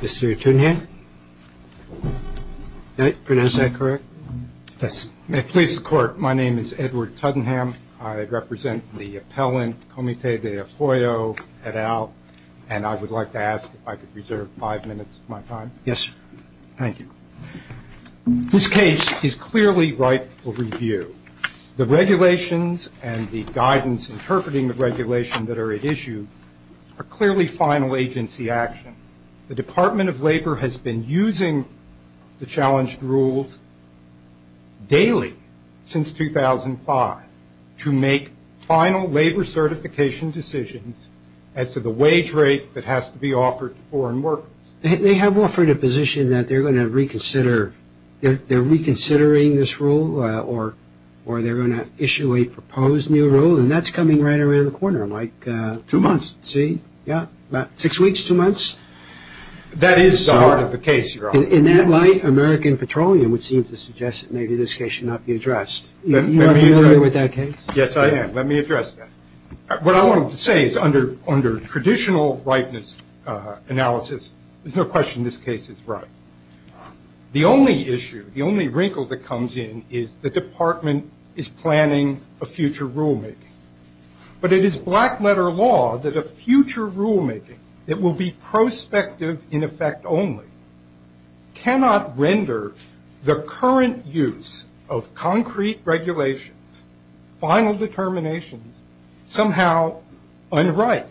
This case is clearly ripe for review. The regulations and the guidance interpreting the regulation that are at issue are clearly final agency action. The Department of Labor has been using the challenged rules daily since 2005 to make final labor certification decisions as to the wage rate that has to be offered to foreign workers. They have offered a position that they're going to reconsider. They're reconsidering this rule, or they're going to issue a proposed new rule, and that's coming right around the corner, Mike. Two months. See? Yeah. About six weeks, two months. That is the heart of the case, Your Honor. In that light, American Petroleum would seem to suggest that maybe this case should not be addressed. You are familiar with that case? Yes, I am. Let me address that. What I wanted to say is under traditional rightness analysis, there's no question this case is right. The only issue, the only wrinkle that comes in is the department is planning a future rulemaking. But it is black-letter law that a future rulemaking that will be prospective in effect only cannot render the current use of concrete regulations, final determinations, somehow unright.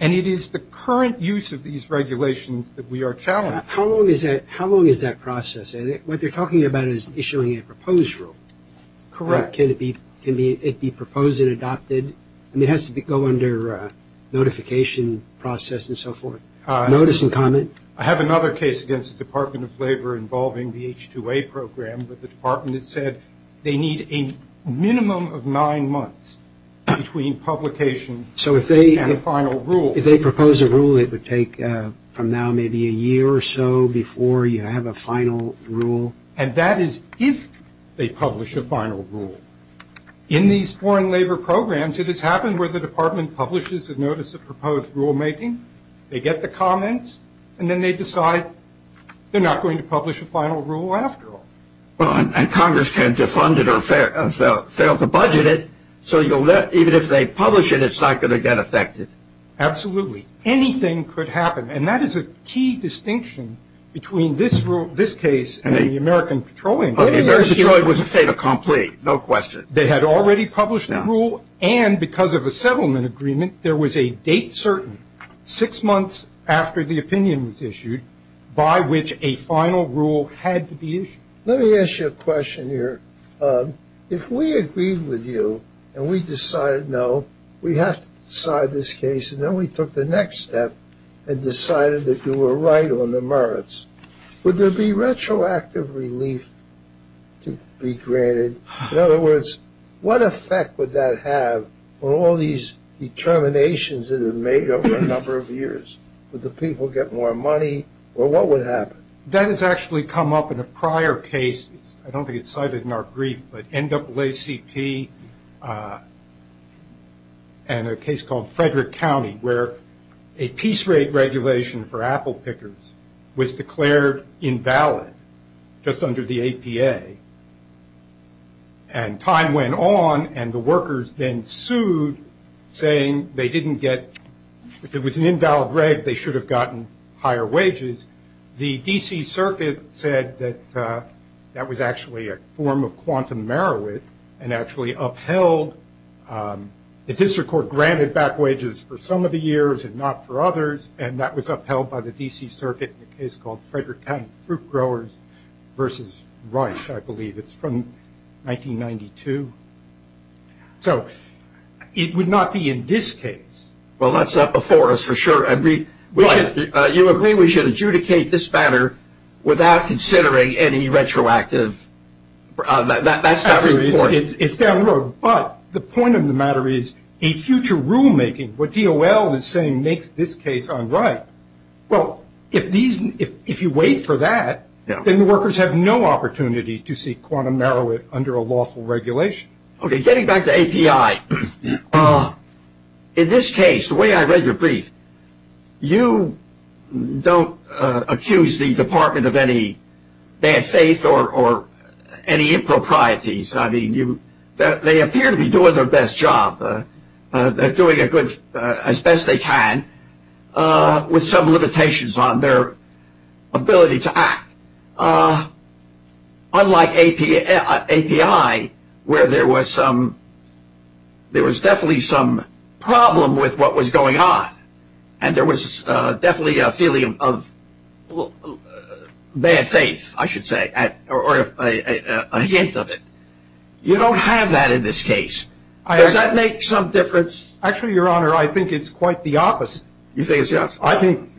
And it is the current use of these regulations that we are challenging. How long is that process? What they're talking about is issuing a proposed rule. Correct. Can it be proposed and adopted? I mean, it has to go under notification process and so forth. Notice and comment? I have another case against the Department of Labor involving the H-2A program, but the department has said they need a minimum of nine months between publication and the final rule. So if they propose a rule, it would take from now maybe a year or so before you have a final rule? And that is if they publish a final rule. In these foreign labor programs, it has happened where the department publishes a notice of proposed rulemaking, they get the comments, and then they decide they're not going to publish a final rule after all. And Congress can't defund it or fail to budget it, so even if they publish it, it's not going to get affected. Absolutely. And that is a key distinction between this case and the American Petroleum case. The American Petroleum was a fait accompli, no question. They had already published the rule, and because of a settlement agreement, there was a date certain six months after the opinion was issued by which a final rule had to be issued. Let me ask you a question here. If we agreed with you and we decided, no, we have to decide this case, and then we took the next step and decided that you were right on the merits, would there be retroactive relief to be granted? In other words, what effect would that have on all these determinations that have been made over a number of years? Would the people get more money, or what would happen? That has actually come up in a prior case. I don't think it's cited in our brief, but NAACP and a case called Frederick County, where a piece rate regulation for apple pickers was declared invalid just under the APA. And time went on, and the workers then sued, saying they didn't get – if it was an invalid rate, they should have gotten higher wages. The D.C. Circuit said that that was actually a form of quantum merit and actually upheld – the district court granted back wages for some of the years and not for others, and that was upheld by the D.C. Circuit in a case called Frederick County Fruit Growers versus Rush, I believe. It's from 1992. So it would not be in this case. Well, that's up before us for sure. You agree we should adjudicate this matter without considering any retroactive – that's not important. It's down the road, but the point of the matter is a future rulemaking. What DOL is saying makes this case unright. Well, if you wait for that, then the workers have no opportunity to seek quantum merit under a lawful regulation. Okay, getting back to API. In this case, the way I read your brief, you don't accuse the Department of any bad faith or any improprieties. I mean, they appear to be doing their best job. They're doing as best they can with some limitations on their ability to act. Unlike API, where there was definitely some problem with what was going on, and there was definitely a feeling of bad faith, I should say, or a hint of it. You don't have that in this case. Does that make some difference? Actually, Your Honor, I think it's quite the opposite. You think it's the opposite?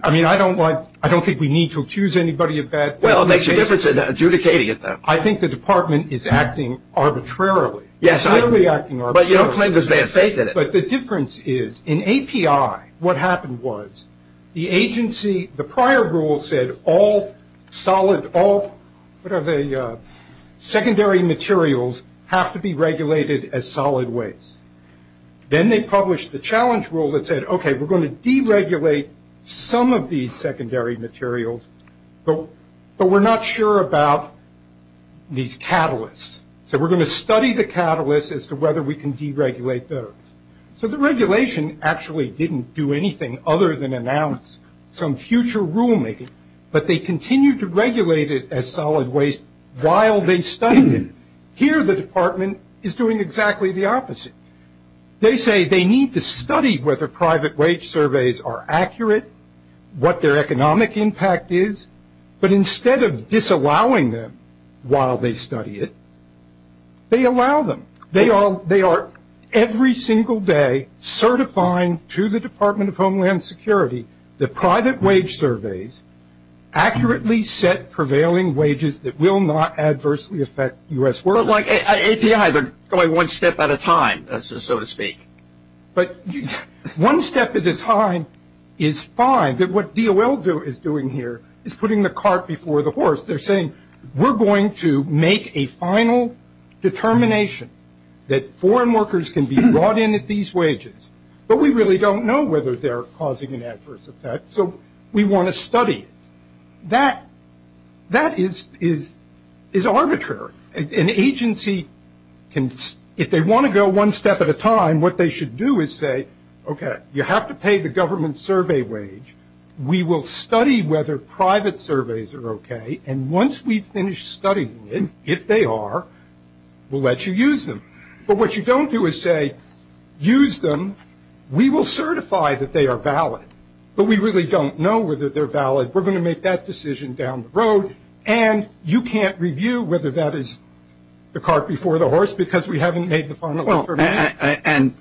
I mean, I don't think we need to accuse anybody of bad faith. Well, it makes a difference in adjudicating it, though. I think the department is acting arbitrarily. Yes, I agree. Clearly acting arbitrarily. But you don't claim because they have faith in it. But the difference is, in API, what happened was the agency – the prior rule said all solid – what are they – secondary materials have to be regulated as solid waste. Then they published the challenge rule that said, okay, we're going to deregulate some of these secondary materials, but we're not sure about these catalysts. So we're going to study the catalysts as to whether we can deregulate those. So the regulation actually didn't do anything other than announce some future rulemaking, but they continued to regulate it as solid waste while they studied it. Here the department is doing exactly the opposite. They say they need to study whether private wage surveys are accurate, what their economic impact is, but instead of disallowing them while they study it, they allow them. They are every single day certifying to the Department of Homeland Security that private wage surveys accurately set prevailing wages that will not adversely affect U.S. workers. But like APIs are going one step at a time, so to speak. But one step at a time is fine. But what DOL is doing here is putting the cart before the horse. They're saying we're going to make a final determination that foreign workers can be brought in at these wages, but we really don't know whether they're causing an adverse effect, so we want to study it. That is arbitrary. An agency can – if they want to go one step at a time, what they should do is say, okay, you have to pay the government survey wage, we will study whether private surveys are okay, and once we've finished studying it, if they are, we'll let you use them. But what you don't do is say, use them, we will certify that they are valid, but we really don't know whether they're valid, we're going to make that decision down the road, and you can't review whether that is the cart before the horse because we haven't made the final determination.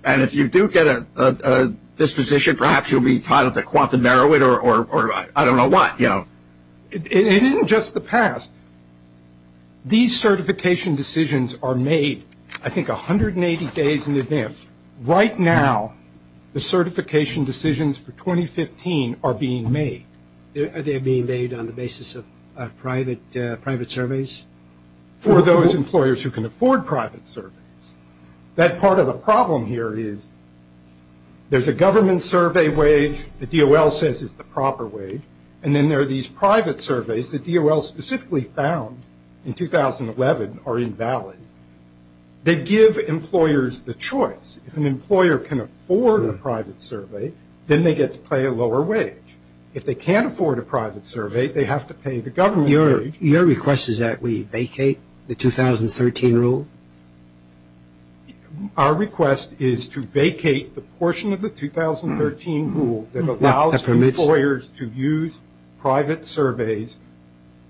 And if you do get a disposition, perhaps you'll be titled a quantum narrow it or I don't know what, you know. It isn't just the past. These certification decisions are made, I think, 180 days in advance. Right now, the certification decisions for 2015 are being made. Are they being made on the basis of private surveys? For those employers who can afford private surveys. That part of the problem here is there's a government survey wage that DOL says is the proper wage, and then there are these private surveys that DOL specifically found in 2011 are invalid. They give employers the choice. If an employer can afford a private survey, then they get to pay a lower wage. If they can't afford a private survey, they have to pay the government wage. Your request is that we vacate the 2013 rule? Our request is to vacate the portion of the 2013 rule that allows employers to use private surveys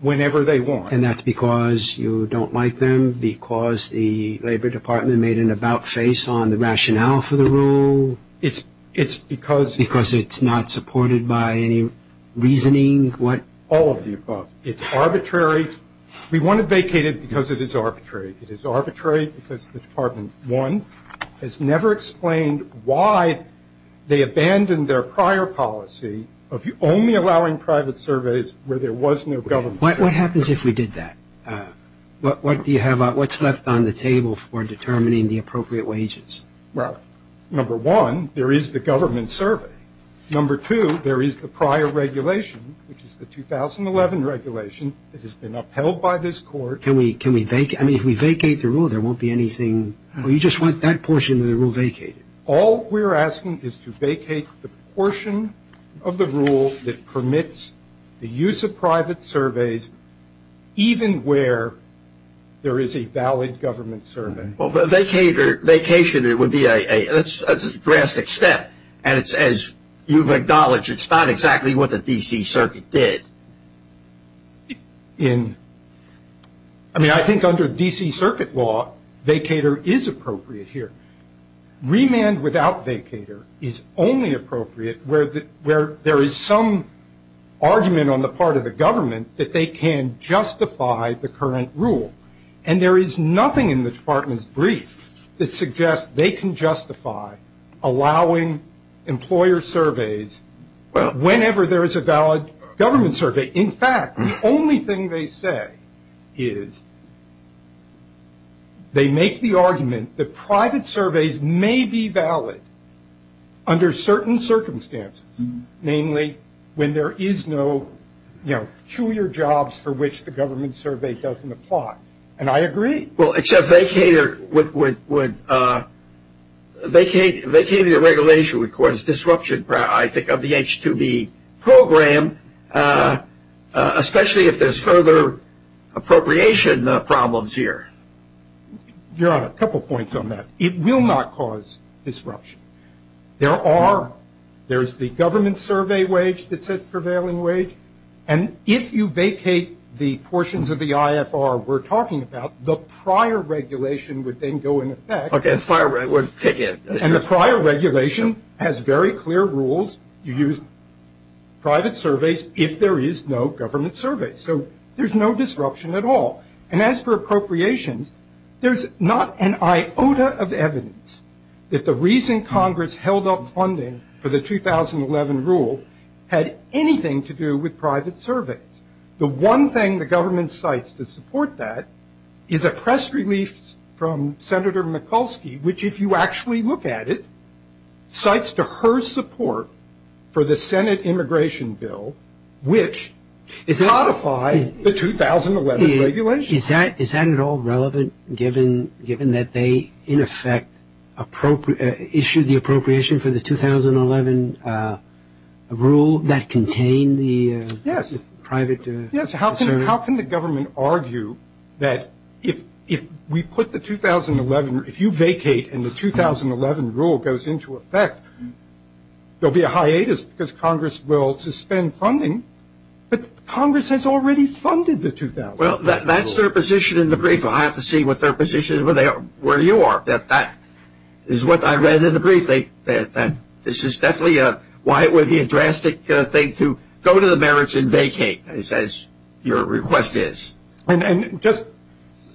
whenever they want. And that's because you don't like them? Because the Labor Department made an about face on the rationale for the rule? It's because it's not supported by any reasoning? All of the above. It's arbitrary. We want to vacate it because it is arbitrary. It is arbitrary because the Department, one, has never explained why they abandoned their prior policy of only allowing private surveys where there was no government survey. What happens if we did that? What's left on the table for determining the appropriate wages? Well, number one, there is the government survey. Number two, there is the prior regulation, which is the 2011 regulation that has been upheld by this court. Can we vacate? I mean, if we vacate the rule, there won't be anything? You just want that portion of the rule vacated? All we're asking is to vacate the portion of the rule that permits the use of private surveys even where there is a valid government survey. Vacation would be a drastic step, and as you've acknowledged, it's not exactly what the D.C. Circuit did. I mean, I think under D.C. Circuit law, vacator is appropriate here. Remand without vacator is only appropriate where there is some argument on the part of the government that they can justify the current rule, and there is nothing in the Department's brief that suggests they can justify allowing employer surveys whenever there is a valid government survey. In fact, the only thing they say is they make the argument that private surveys may be valid under certain circumstances, namely when there is no, you know, fewer jobs for which the government survey doesn't apply, and I agree. Well, except vacator would, vacator regulation would cause disruption, I think, of the H-2B program, especially if there's further appropriation problems here. Your Honor, a couple points on that. It will not cause disruption. There are, there's the government survey wage that says prevailing wage, and if you vacate the portions of the IFR we're talking about, the prior regulation would then go into effect. Okay, the prior regulation would kick in. And the prior regulation has very clear rules. You use private surveys if there is no government survey. So there's no disruption at all, and as for appropriations, there's not an iota of evidence that the reason Congress held up funding for the 2011 rule had anything to do with private surveys. The one thing the government cites to support that is a press release from Senator Mikulski, which if you actually look at it, cites to her support for the Senate immigration bill, which codifies the 2011 regulation. Is that at all relevant given that they, in effect, issued the appropriation for the 2011 rule that contained the private survey? Yes. How can the government argue that if we put the 2011, if you vacate and the 2011 rule goes into effect, there will be a hiatus because Congress will suspend funding, but Congress has already funded the 2011 rule. Well, that's their position in the brief. I'll have to see what their position is where you are. That is what I read in the brief. This is definitely why it would be a drastic thing to go to the merits and vacate, as your request is. And just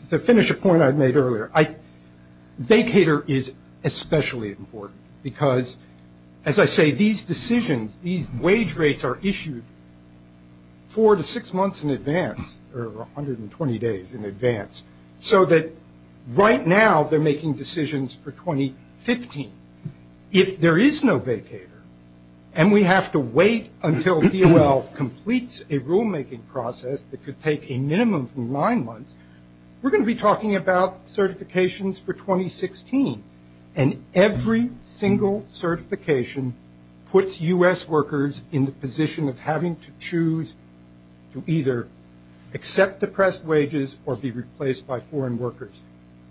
to finish a point I made earlier, vacater is especially important because, as I say, these decisions, these wage rates are issued four to six months in advance, or 120 days in advance, so that right now they're making decisions for 2015. If there is no vacater and we have to wait until DOL completes a rulemaking process that could take a minimum of nine months, we're going to be talking about certifications for 2016, and every single certification puts U.S. workers in the position of having to choose to either accept depressed wages or be replaced by foreign workers.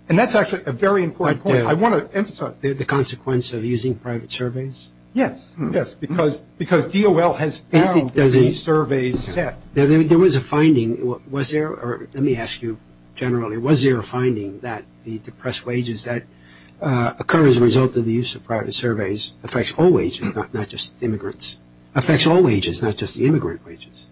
And that's actually a very important point. I want to emphasize that. The consequence of using private surveys? Yes, yes, because DOL has found these surveys set. There was a finding. Let me ask you generally. Was there a finding that the depressed wages that occur as a result of the use of private surveys affects all wages, not just immigrants? It affects all wages, not just the immigrant wages.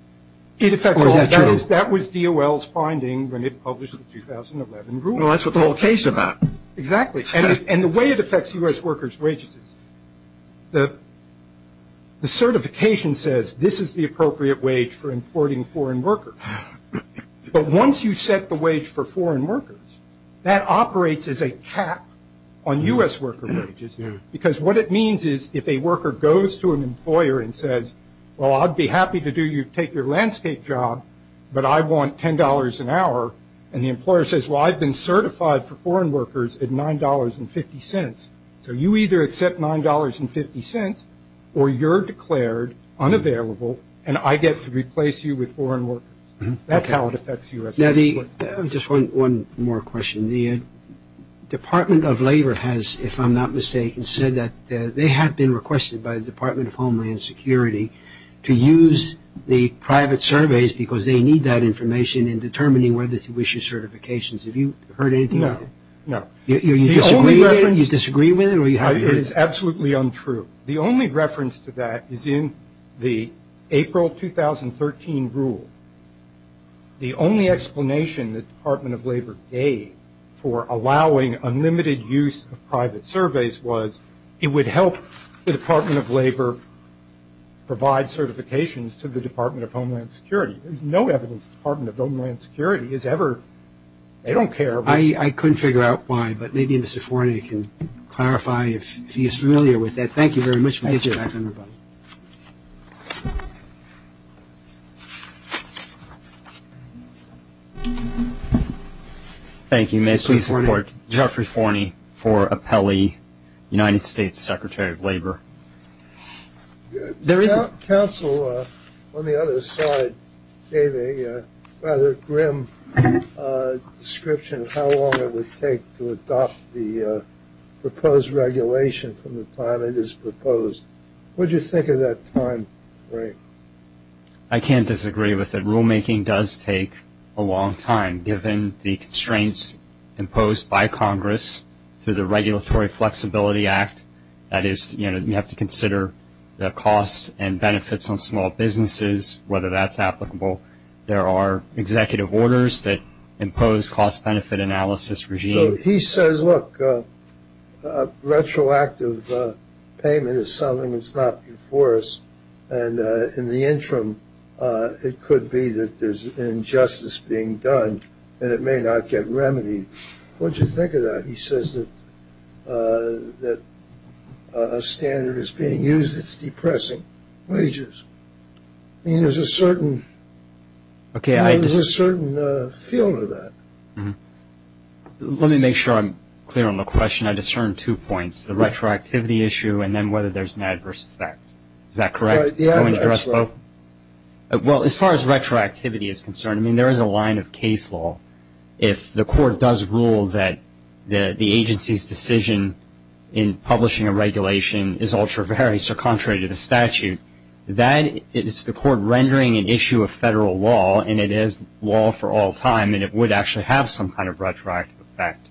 Or is that true? That was DOL's finding when it published the 2011 rule. Well, that's what the whole case is about. Exactly. And the way it affects U.S. workers' wages is the certification says this is the appropriate wage for importing foreign workers. But once you set the wage for foreign workers, that operates as a cap on U.S. worker wages, because what it means is if a worker goes to an employer and says, well, I'd be happy to take your landscape job, but I want $10 an hour, and the employer says, well, I've been certified for foreign workers at $9.50. So you either accept $9.50 or you're declared unavailable and I get to replace you with foreign workers. That's how it affects U.S. workers. Just one more question. The Department of Labor has, if I'm not mistaken, said that they have been requested by the Department of Homeland Security to use the private surveys because they need that information in determining whether to issue certifications. Have you heard anything of that? No, no. Do you disagree with it? It is absolutely untrue. The only reference to that is in the April 2013 rule. The only explanation the Department of Labor gave for allowing unlimited use of private surveys was it would help the Department of Labor provide certifications to the Department of Homeland Security. There's no evidence the Department of Homeland Security has ever, they don't care. I couldn't figure out why, but maybe Mr. Forney can clarify if he's familiar with that. Thank you. Thank you. May I please support Geoffrey Forney for appellee United States Secretary of Labor? Council on the other side gave a rather grim description of how long it would take to adopt the proposed regulation from the time it is proposed. What did you think of that time frame? I can't disagree with it. Rulemaking does take a long time, given the constraints imposed by Congress through the Regulatory Flexibility Act. That is, you have to consider the costs and benefits on small businesses, whether that's applicable. There are executive orders that impose cost-benefit analysis regimes. He says, look, retroactive payment is something that's not before us. And in the interim, it could be that there's injustice being done and it may not get remedied. What did you think of that? He says that a standard is being used that's depressing wages. I mean, there's a certain field of that. Let me make sure I'm clear on the question. I discerned two points, the retroactivity issue and then whether there's an adverse effect. Is that correct? Yeah. Well, as far as retroactivity is concerned, I mean, there is a line of case law. If the court does rule that the agency's decision in publishing a regulation is ultra-vary, so contrary to the statute, that is the court rendering an issue of federal law and it is law for all time and it would actually have some kind of retroactive effect.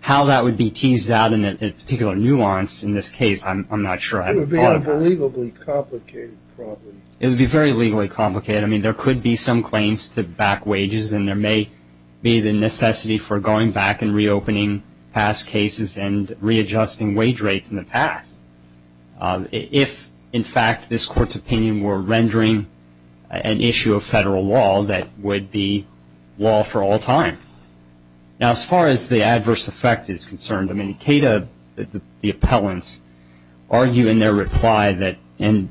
How that would be teased out in a particular nuance in this case, I'm not sure. It would be unbelievably complicated probably. It would be very legally complicated. I mean, there could be some claims to back wages and there may be the necessity for going back and reopening past cases and readjusting wage rates in the past. If, in fact, this court's opinion were rendering an issue of federal law, that would be law for all time. Now, as far as the adverse effect is concerned, I mean, CATA, the appellants, argue in their reply that and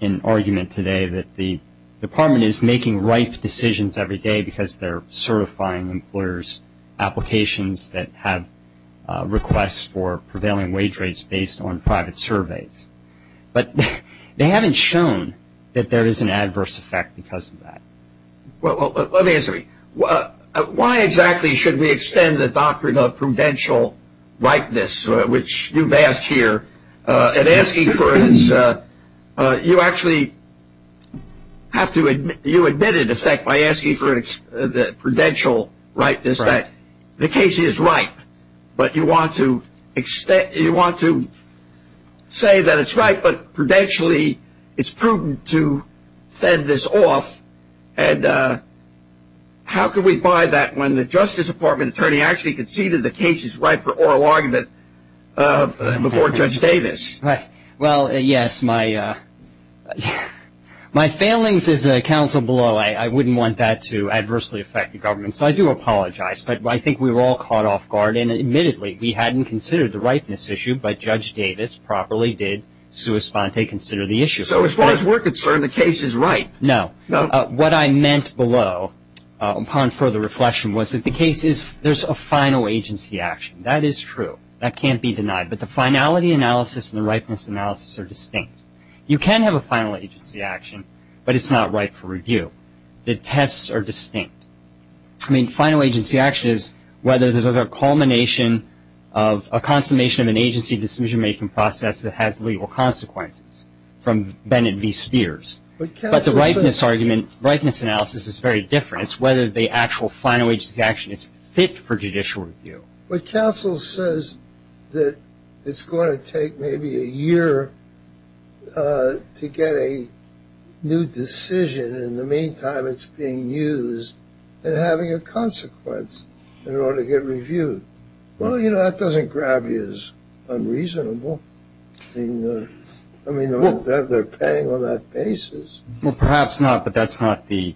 in argument today that the department is making ripe decisions every day because they're certifying employers' applications that have requests for prevailing wage rates based on private surveys. But they haven't shown that there is an adverse effect because of that. Well, let me ask you something. Why exactly should we extend the doctrine of prudential ripeness, which you've asked here? And asking for its – you actually have to – you admit, in effect, by asking for the prudential ripeness that the case is ripe, but you want to say that it's ripe, but prudentially it's prudent to fend this off. And how could we buy that when the Justice Department attorney actually conceded the case is ripe for oral argument before Judge Davis? Right. Well, yes, my failings as a counsel below, I wouldn't want that to adversely affect the government. So I do apologize. But I think we were all caught off guard. And admittedly, we hadn't considered the ripeness issue, but Judge Davis properly did sua sponte consider the issue. So as far as we're concerned, the case is ripe. No. What I meant below upon further reflection was that the case is – there's a final agency action. That is true. That can't be denied. But the finality analysis and the ripeness analysis are distinct. You can have a final agency action, but it's not ripe for review. The tests are distinct. I mean, final agency action is whether there's a culmination of a consummation of an agency decision-making process that has legal consequences from Bennett v. Spears. But the ripeness argument, ripeness analysis is very different. It's whether the actual final agency action is fit for judicial review. But counsel says that it's going to take maybe a year to get a new decision. In the meantime, it's being used and having a consequence in order to get reviewed. Well, you know, that doesn't grab you as unreasonable. I mean, they're paying on that basis. Well, perhaps not, but that's not the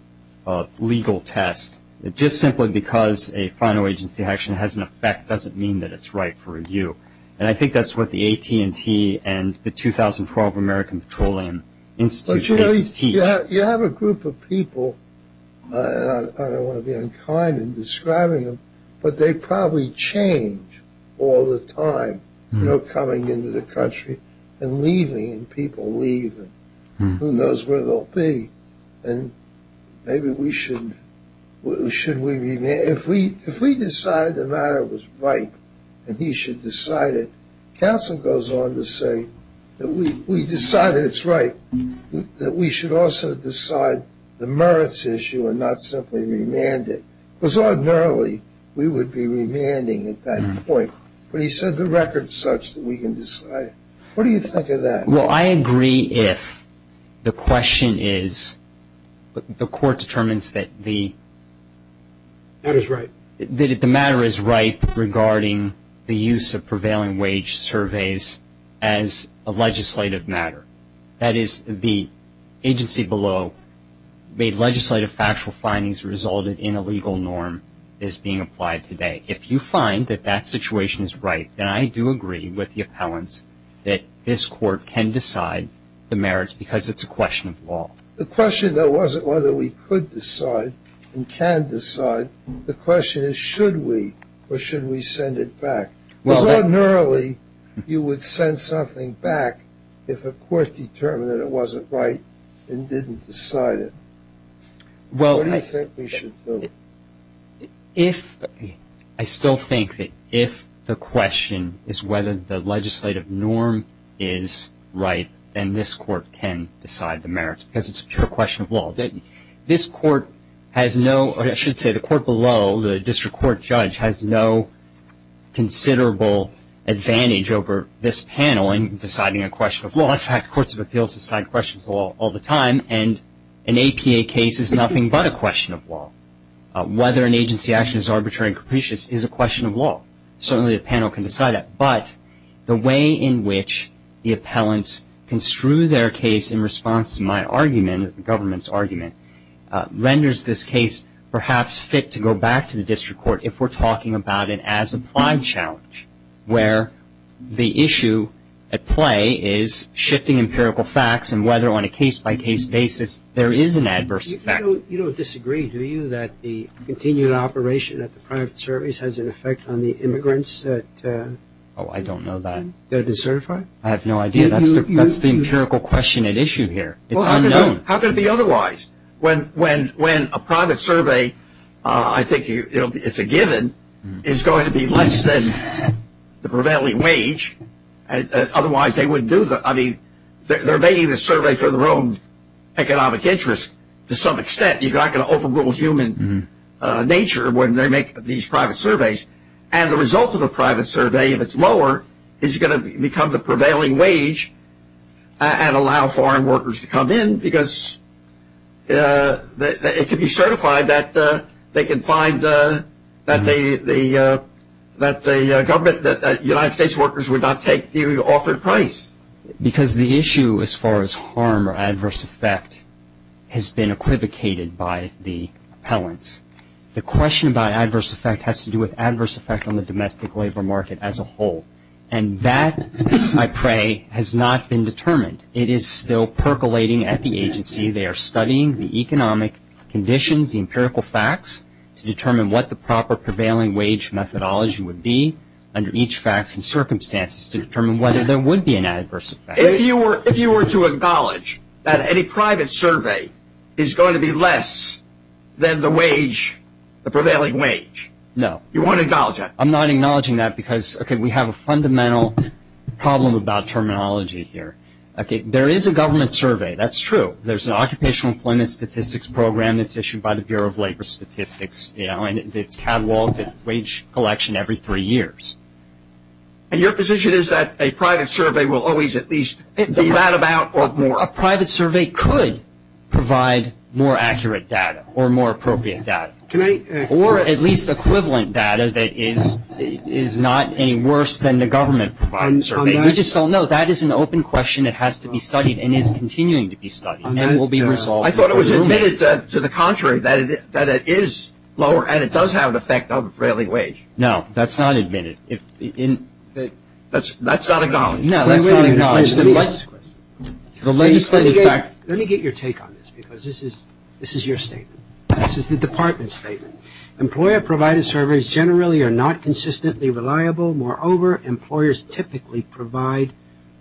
legal test. Just simply because a final agency action has an effect doesn't mean that it's ripe for review. And I think that's what the AT&T and the 2012 American Petroleum Institute case teach. But, you know, you have a group of people, and I don't want to be unkind in describing them, but they probably change all the time, you know, coming into the country and leaving, and people leave, and who knows where they'll be. And maybe we should, should we, if we decide the matter was ripe and he should decide it, counsel goes on to say that we decide that it's ripe, that we should also decide the merits issue and not simply remand it. Because ordinarily, we would be remanding at that point. But he said the record's such that we can decide it. What do you think of that? Well, I agree if the question is the court determines that the matter is ripe regarding the use of prevailing wage surveys as a legislative matter. That is, the agency below made legislative factual findings resulted in a legal norm that's being applied today. If you find that that situation is ripe, then I do agree with the appellants that this court can decide the merits because it's a question of law. The question, though, wasn't whether we could decide and can decide. The question is should we or should we send it back? Because ordinarily, you would send something back if a court determined it wasn't right and didn't decide it. What do you think we should do? If, I still think that if the question is whether the legislative norm is ripe, then this court can decide the merits because it's a pure question of law. This court has no, or I should say the court below, the district court judge, has no considerable advantage over this panel in deciding a question of law. In fact, courts of appeals decide questions of law all the time. And an APA case is nothing but a question of law. Whether an agency action is arbitrary and capricious is a question of law. Certainly a panel can decide that. But the way in which the appellants construe their case in response to my argument, the government's argument, renders this case perhaps fit to go back to the district court if we're talking about it as a prime challenge where the issue at play is shifting empirical facts and whether on a case-by-case basis there is an adverse effect. You don't disagree, do you, that the continued operation of the private service has an effect on the immigrants that? Oh, I don't know that. That are decertified? I have no idea. That's the empirical question at issue here. It's unknown. How could it be otherwise? When a private survey, I think it's a given, is going to be less than the prevailing wage, otherwise they wouldn't do the, I mean, they're making the survey for their own economic interest. To some extent, you're not going to overrule human nature when they make these private surveys. And the result of a private survey, if it's lower, is going to become the prevailing wage and allow foreign workers to come in because it can be certified that they can find that the government, that United States workers would not take the offered price. Because the issue as far as harm or adverse effect has been equivocated by the appellants. The question about adverse effect has to do with adverse effect on the domestic labor market as a whole. And that, I pray, has not been determined. It is still percolating at the agency. They are studying the economic conditions, the empirical facts, to determine what the proper prevailing wage methodology would be under each fact and circumstance to determine whether there would be an adverse effect. If you were to acknowledge that any private survey is going to be less than the wage, the prevailing wage. No. You wouldn't acknowledge that? I'm not acknowledging that because, okay, we have a fundamental problem about terminology here. Okay, there is a government survey. That's true. There's an occupational employment statistics program that's issued by the Bureau of Labor Statistics, you know, and it's cataloged at wage collection every three years. And your position is that a private survey will always at least be that about or more? A private survey could provide more accurate data or more appropriate data. Or at least equivalent data that is not any worse than the government-provided survey. We just don't know. That is an open question. It has to be studied and is continuing to be studied and will be resolved. I thought it was admitted to the contrary, that it is lower and it does have an effect on prevailing wage. No, that's not admitted. That's not acknowledged. No, that's not acknowledged. Let me get your take on this because this is your statement. This is the department's statement. Employer-provided surveys generally are not consistently reliable. Moreover, employers typically provide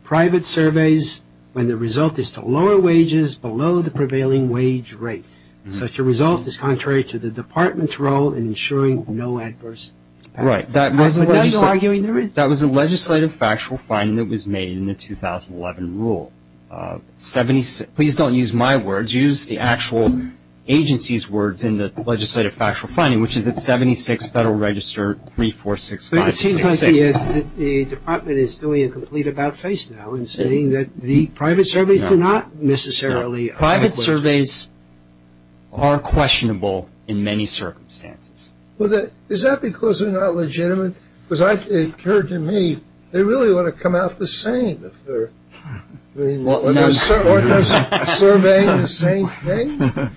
private surveys when the result is to lower wages below the prevailing wage rate. Such a result is contrary to the department's role in ensuring no adverse impact. Right. That was a legislative factual finding that was made in the 2011 rule. Please don't use my words. Use the actual agency's words in the legislative factual finding, which is at 76 Federal Register 3465. But it seems like the department is doing a complete about-face now and saying that the private surveys do not necessarily. Private surveys are questionable in many circumstances. Is that because they're not legitimate? Because it occurred to me they really want to come out the same if they're surveying the same thing.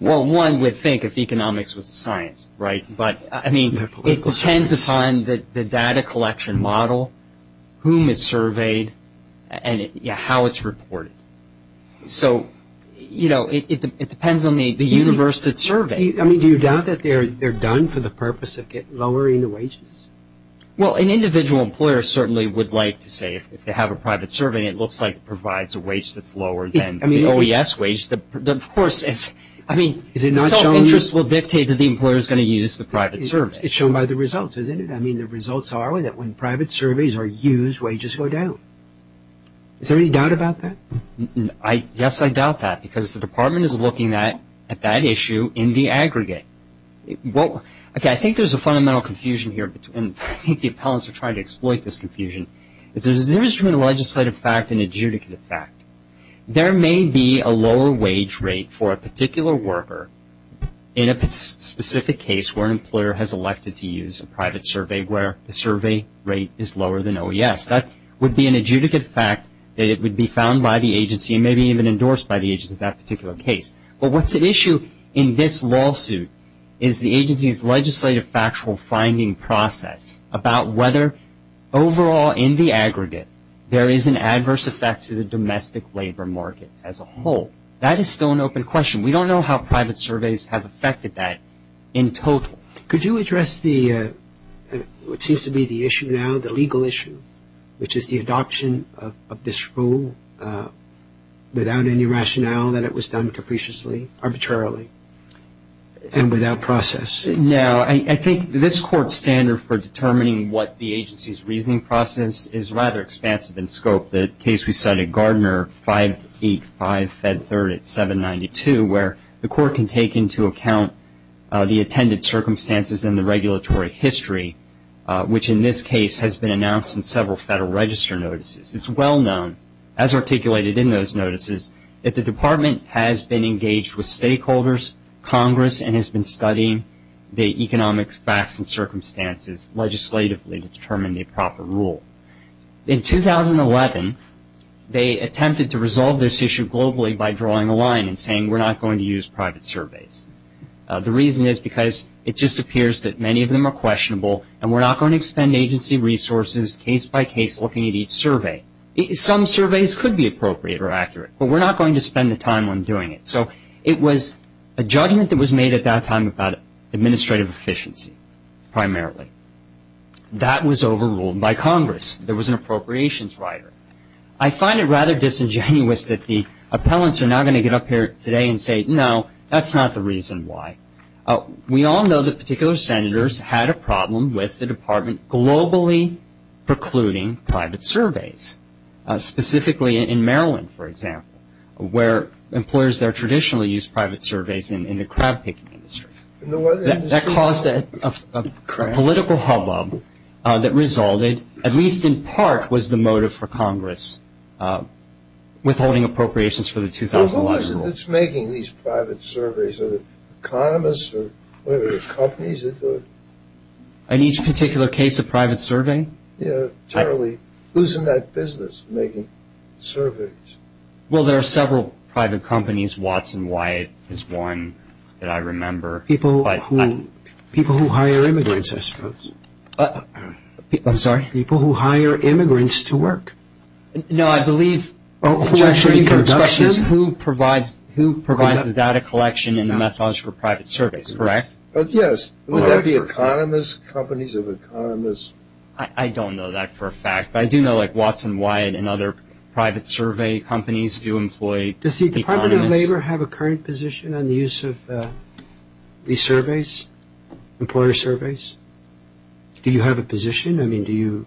Well, one would think if economics was a science, right? But, I mean, it depends upon the data collection model, whom it surveyed, and how it's reported. So, you know, it depends on the universe it surveyed. I mean, do you doubt that they're done for the purpose of lowering the wages? Well, an individual employer certainly would like to say if they have a private survey, it looks like it provides a wage that's lower than the OES wage. Of course, I mean, self-interest will dictate that the employer is going to use the private survey. It's shown by the results, isn't it? I mean, the results are that when private surveys are used, wages go down. Is there any doubt about that? Yes, I doubt that, because the department is looking at that issue in the aggregate. Okay, I think there's a fundamental confusion here, and I think the appellants are trying to exploit this confusion. There's a difference between a legislative fact and a judicative fact. There may be a lower wage rate for a particular worker in a specific case where an employer has elected to use a private survey where the survey rate is lower than OES. That would be an adjudicative fact that it would be found by the agency and maybe even endorsed by the agency in that particular case. But what's at issue in this lawsuit is the agency's legislative factual finding process about whether overall in the aggregate there is an adverse effect to the domestic labor market as a whole. That is still an open question. We don't know how private surveys have affected that in total. Could you address what seems to be the issue now, the legal issue, which is the adoption of this rule without any rationale that it was done capriciously, arbitrarily, and without process? No. I think this Court's standard for determining what the agency's reasoning process is rather expansive in scope. The case we cited, Gardner 585, Fed 3rd at 792, where the Court can take into account the attended circumstances in the regulatory history, which in this case has been announced in several Federal Register notices. It's well known, as articulated in those notices, that the Department has been engaged with stakeholders, Congress, and has been studying the economic facts and circumstances legislatively to determine the proper rule. In 2011, they attempted to resolve this issue globally by drawing a line and saying we're not going to use private surveys. The reason is because it just appears that many of them are questionable and we're not going to expend agency resources case by case looking at each survey. Some surveys could be appropriate or accurate, but we're not going to spend the time on doing it. So it was a judgment that was made at that time about administrative efficiency primarily. That was overruled by Congress. There was an appropriations rider. I find it rather disingenuous that the appellants are now going to get up here today and say, no, that's not the reason why. We all know that particular Senators had a problem with the Department globally precluding private surveys, specifically in Maryland, for example, where employers there traditionally use private surveys in the crab picking industry. That caused a political hubbub that resulted, at least in part, was the motive for Congress withholding appropriations for the 2011 rule. Well, what was it that's making these private surveys? Are they economists or whatever the companies that do it? In each particular case of private surveying? Yeah, totally. Who's in that business making surveys? Well, there are several private companies. Watson Wyatt is one that I remember. People who hire immigrants, I suppose. I'm sorry? People who hire immigrants to work. No, I believe who provides the data collection and the methodology for private surveys, correct? Yes. Would that be economists, companies of economists? I don't know that for a fact. But I do know, like, Watson Wyatt and other private survey companies do employ economists. Does the Department of Labor have a current position on the use of these surveys, employer surveys? Do you have a position? I mean, do you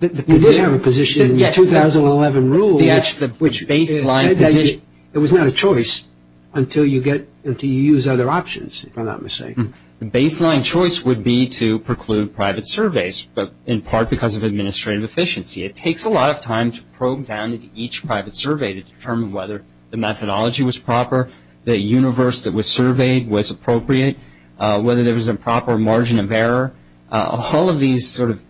have a position in the 2011 rule which said that it was not a choice until you use other options, if I'm not mistaken? The baseline choice would be to preclude private surveys, but in part because of administrative efficiency. It takes a lot of time to probe down into each private survey to determine whether the methodology was proper, the universe that was surveyed was appropriate, whether there was a proper margin of error. All of these sort of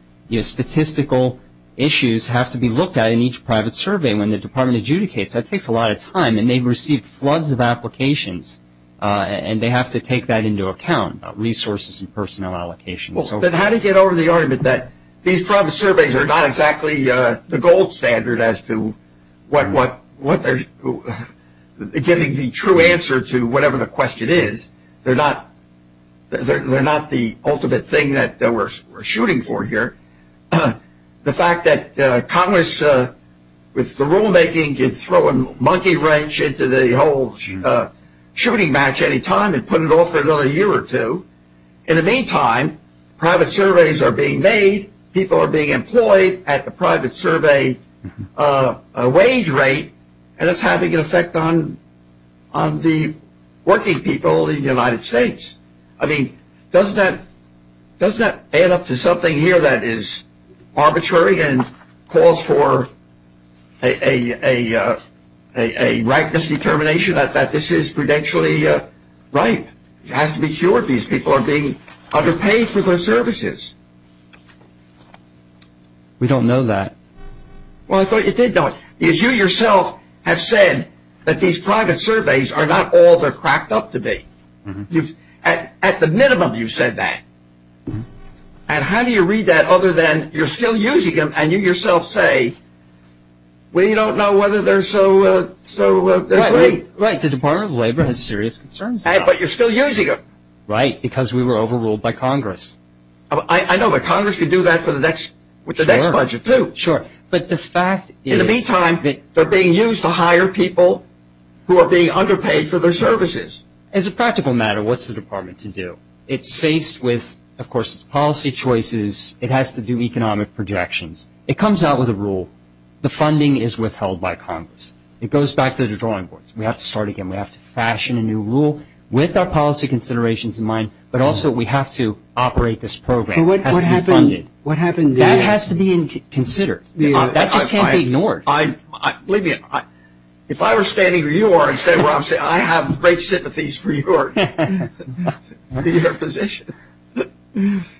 statistical issues have to be looked at in each private survey. When the department adjudicates, that takes a lot of time. And they've received floods of applications, and they have to take that into account, resources and personnel allocations. But how do you get over the argument that these private surveys are not exactly the gold standard as to what they're giving the true answer to whatever the question is? They're not the ultimate thing that we're shooting for here. The fact that Congress, with the rulemaking, can throw a monkey wrench into the whole shooting match any time and put it off for another year or two. In the meantime, private surveys are being made, people are being employed at the private survey wage rate, and it's having an effect on the working people in the United States. I mean, doesn't that add up to something here that is arbitrary and calls for a rightness determination that this is prudentially right? It has to be cured. These people are being underpaid for their services. We don't know that. Well, I thought you did know it. Because you yourself have said that these private surveys are not all they're cracked up to be. At the minimum, you've said that. And how do you read that other than you're still using them and you yourself say, we don't know whether they're so great. Right. The Department of Labor has serious concerns about it. But you're still using them. Right. Because we were overruled by Congress. I know, but Congress could do that with the next budget, too. Sure. But the fact is... In the meantime, they're being used to hire people who are being underpaid for their services. As a practical matter, what's the department to do? It's faced with, of course, policy choices. It has to do economic projections. It comes out with a rule. The funding is withheld by Congress. It goes back to the drawing boards. We have to start again. We have to fashion a new rule with our policy considerations in mind, but also we have to operate this program. It has to be funded. What happened then? That has to be considered. That just can't be ignored. I believe you. If I were standing where you are and standing where I'm standing, I have great sympathies for your position.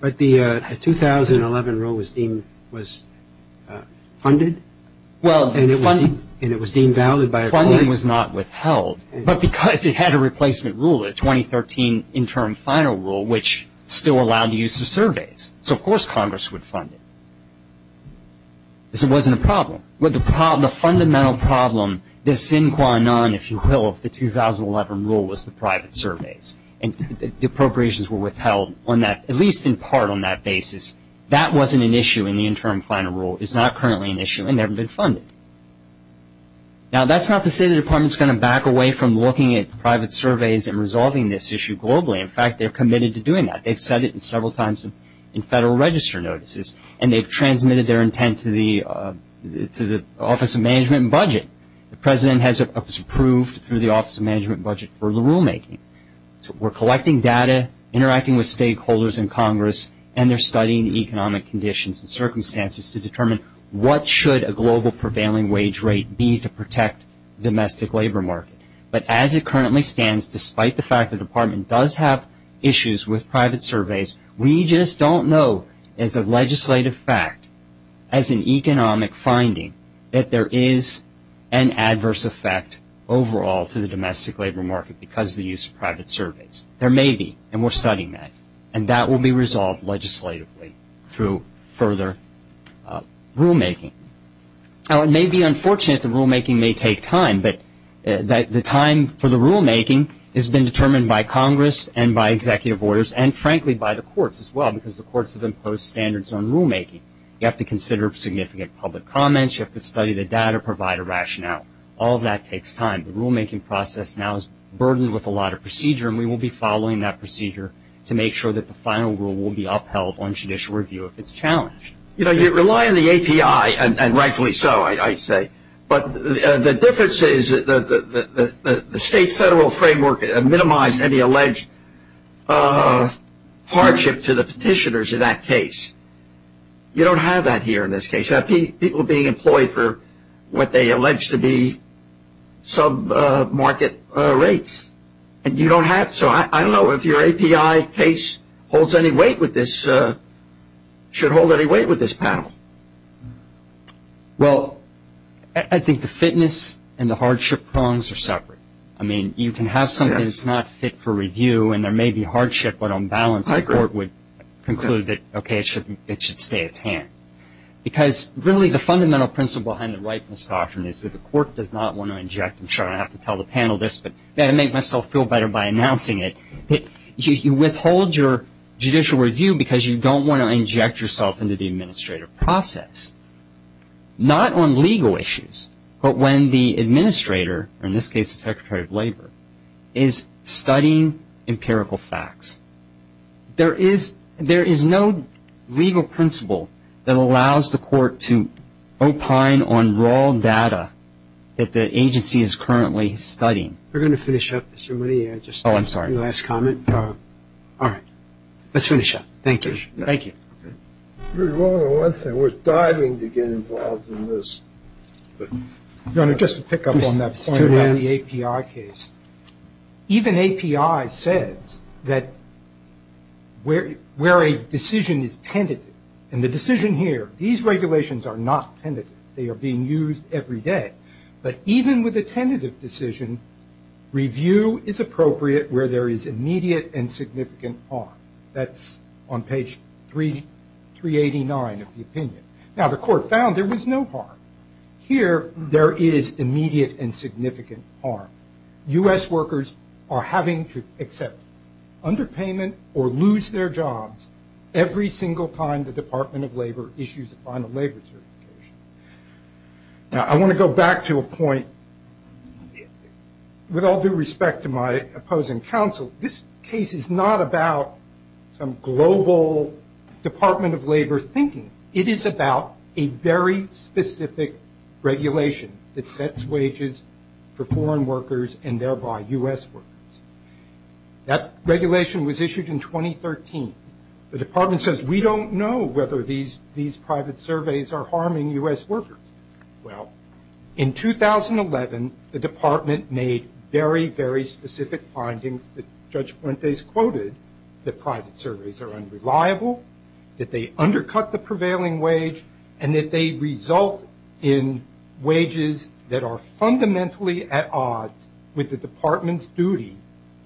But the 2011 rule was funded and it was deemed valid by... Funding was not withheld. But because it had a replacement rule, a 2013 interim final rule, which still allowed the use of surveys. So, of course, Congress would fund it. This wasn't a problem. The fundamental problem, the sin qua non, if you will, of the 2011 rule was the private surveys. And the appropriations were withheld on that, at least in part, on that basis. That wasn't an issue in the interim final rule. It's not currently an issue and never been funded. Now, that's not to say the department is going to back away from looking at private surveys and resolving this issue globally. In fact, they're committed to doing that. They've said it several times in federal register notices and they've transmitted their intent to the Office of Management and Budget. The President has approved through the Office of Management and Budget for the rulemaking. We're collecting data, interacting with stakeholders in Congress, and they're studying economic conditions and circumstances to determine what should a global prevailing wage rate be to protect the domestic labor market. But as it currently stands, despite the fact the department does have issues with private surveys, we just don't know as a legislative fact, as an economic finding, that there is an adverse effect overall to the domestic labor market because of the use of private surveys. There may be, and we're studying that, and that will be resolved legislatively through further rulemaking. Now, it may be unfortunate the rulemaking may take time, but the time for the rulemaking has been determined by Congress and by executive orders and, frankly, by the courts as well because the courts have imposed standards on rulemaking. You have to consider significant public comments. You have to study the data, provide a rationale. All of that takes time. The rulemaking process now is burdened with a lot of procedure, and we will be following that procedure to make sure that the final rule will be upheld on judicial review if it's challenged. The difference is the state-federal framework minimized any alleged hardship to the petitioners in that case. You don't have that here in this case. You have people being employed for what they allege to be sub-market rates, and you don't have that. So I don't know if your API case holds any weight with this panel. Well, I think the fitness and the hardship prongs are separate. I mean, you can have something that's not fit for review, and there may be hardship, but on balance the court would conclude that, okay, it should stay at hand. Because, really, the fundamental principle behind the whiteness doctrine is that the court does not want to inject – I'm sure I don't have to tell the panel this, but I've got to make myself feel better by announcing it – you withhold your judicial review because you don't want to inject yourself into the administrative process, not on legal issues, but when the administrator, or in this case the Secretary of Labor, is studying empirical facts. There is no legal principle that allows the court to opine on raw data that the agency is currently studying. We're going to finish up, Mr. Money. Oh, I'm sorry. Last comment. All right. Let's finish up. Thank you. Thank you. We're diving to get involved in this. Your Honor, just to pick up on that point about the API case, even API says that where a decision is tentative, and the decision here, these regulations are not tentative, they are being used every day, but even with a tentative decision, review is appropriate where there is immediate and significant harm. That's on page 389 of the opinion. Now, the court found there was no harm. Here, there is immediate and significant harm. U.S. workers are having to accept underpayment or lose their jobs every single time the Department of Labor issues a final labor certification. Now, I want to go back to a point. With all due respect to my opposing counsel, this case is not about some global Department of Labor thinking. It is about a very specific regulation that sets wages for foreign workers and thereby U.S. workers. That regulation was issued in 2013. The Department says we don't know whether these private surveys are harming U.S. workers. Well, in 2011, the Department made very, very specific findings that Judge Fuentes quoted, that private surveys are unreliable, that they undercut the prevailing wage, and that they result in wages that are fundamentally at odds with the Department's duty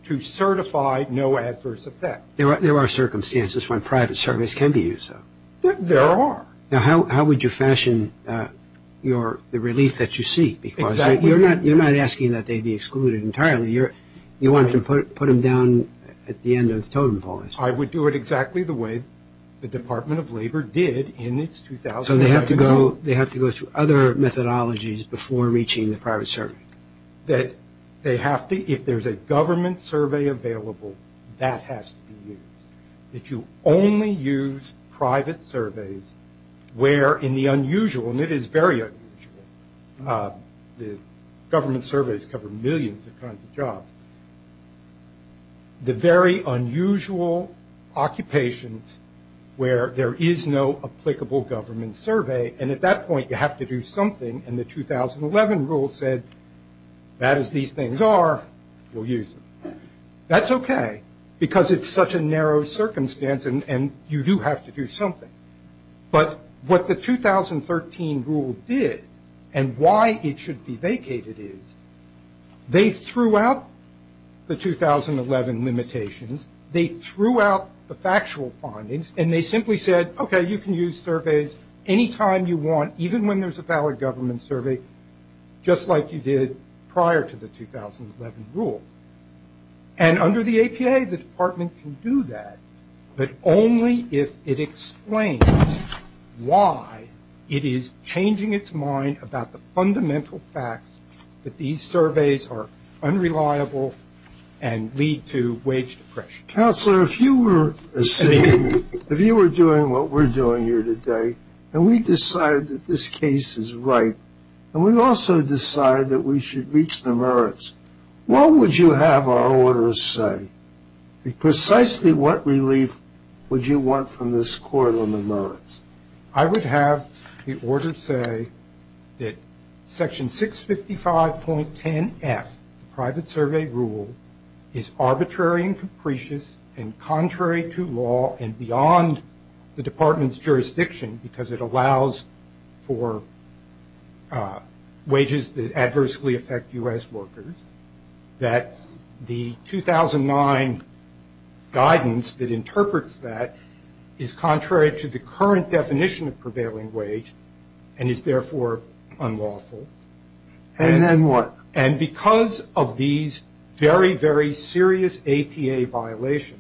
to certify no adverse effect. There are circumstances when private surveys can be used, though. There are. Now, how would you fashion the relief that you seek? Exactly. Because you're not asking that they be excluded entirely. You want to put them down at the end of the totem pole. I would do it exactly the way the Department of Labor did in its 2011 rule. So they have to go through other methodologies before reaching the private survey? That they have to, if there's a government survey available, that has to be used. That you only use private surveys where in the unusual, and it is very unusual, the government surveys cover millions of kinds of jobs. The very unusual occupations where there is no applicable government survey, and at that point you have to do something. And the 2011 rule said, that as these things are, we'll use them. That's okay, because it's such a narrow circumstance, and you do have to do something. But what the 2013 rule did, and why it should be vacated is, they threw out the 2011 limitations. They threw out the factual findings, and they simply said, okay, you can use surveys any time you want, even when there's a valid government survey, just like you did prior to the 2011 rule. And under the APA, the department can do that, but only if it explains why it is changing its mind about the fundamental facts that these surveys are unreliable and lead to wage depression. Counselor, if you were doing what we're doing here today, and we decide that this case is right, and we also decide that we should reach the merits, what would you have our order say? Precisely what relief would you want from this court on the merits? I would have the order say that Section 655.10F, the private survey rule, is arbitrary and capricious and contrary to law and beyond the department's jurisdiction, because it allows for wages that adversely affect U.S. workers, that the 2009 guidance that interprets that is contrary to the current definition of prevailing wage and is therefore unlawful. And then what? And because of these very, very serious APA violations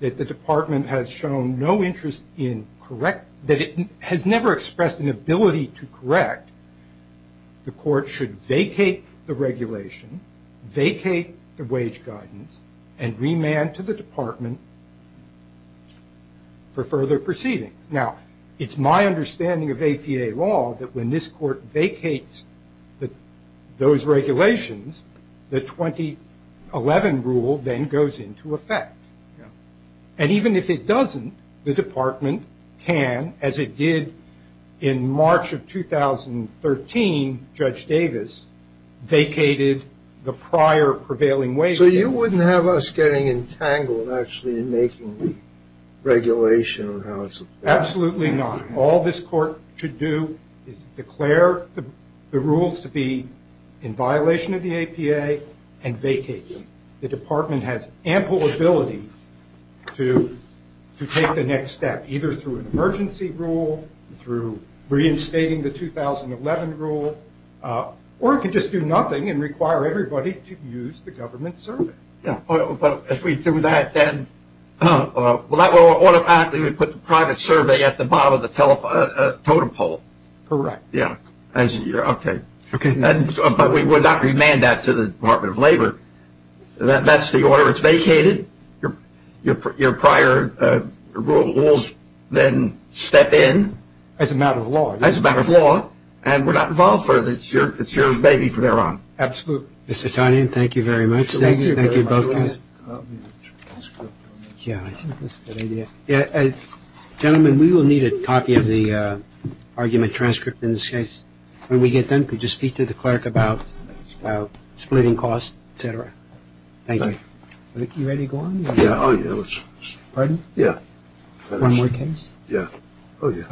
that the department has shown no interest in correct that it has never expressed an ability to correct, the court should vacate the regulation, vacate the wage guidance, and remand to the department for further proceedings. Now, it's my understanding of APA law that when this court vacates those regulations, the 2011 rule then goes into effect. And even if it doesn't, the department can, as it did in March of 2013, Judge Davis, vacated the prior prevailing wage. So you wouldn't have us getting entangled, actually, in making regulation on how it's... Absolutely not. All this court should do is declare the rules to be in violation of the APA and vacate them. The department has ample ability to take the next step, either through an emergency rule, through reinstating the 2011 rule, or it could just do nothing and require everybody to use the government survey. Yeah. But if we do that, then automatically we put the private survey at the bottom of the totem pole. Correct. Yeah. Okay. Okay. But we would not remand that to the Department of Labor. That's the order. It's vacated. Your prior rules then step in. As a matter of law. As a matter of law. And we're not involved further. It's your baby from there on. Mr. Tonian, thank you very much. Thank you. Thank you, both of you. Can I get a copy of the transcript? Yeah, I think that's a good idea. Gentlemen, we will need a copy of the argument transcript in this case. When we get done, could you speak to the clerk about splitting costs, et cetera? Thank you. You ready to go on? Yeah. Pardon? Yeah. One more case? Yeah. Oh, yeah.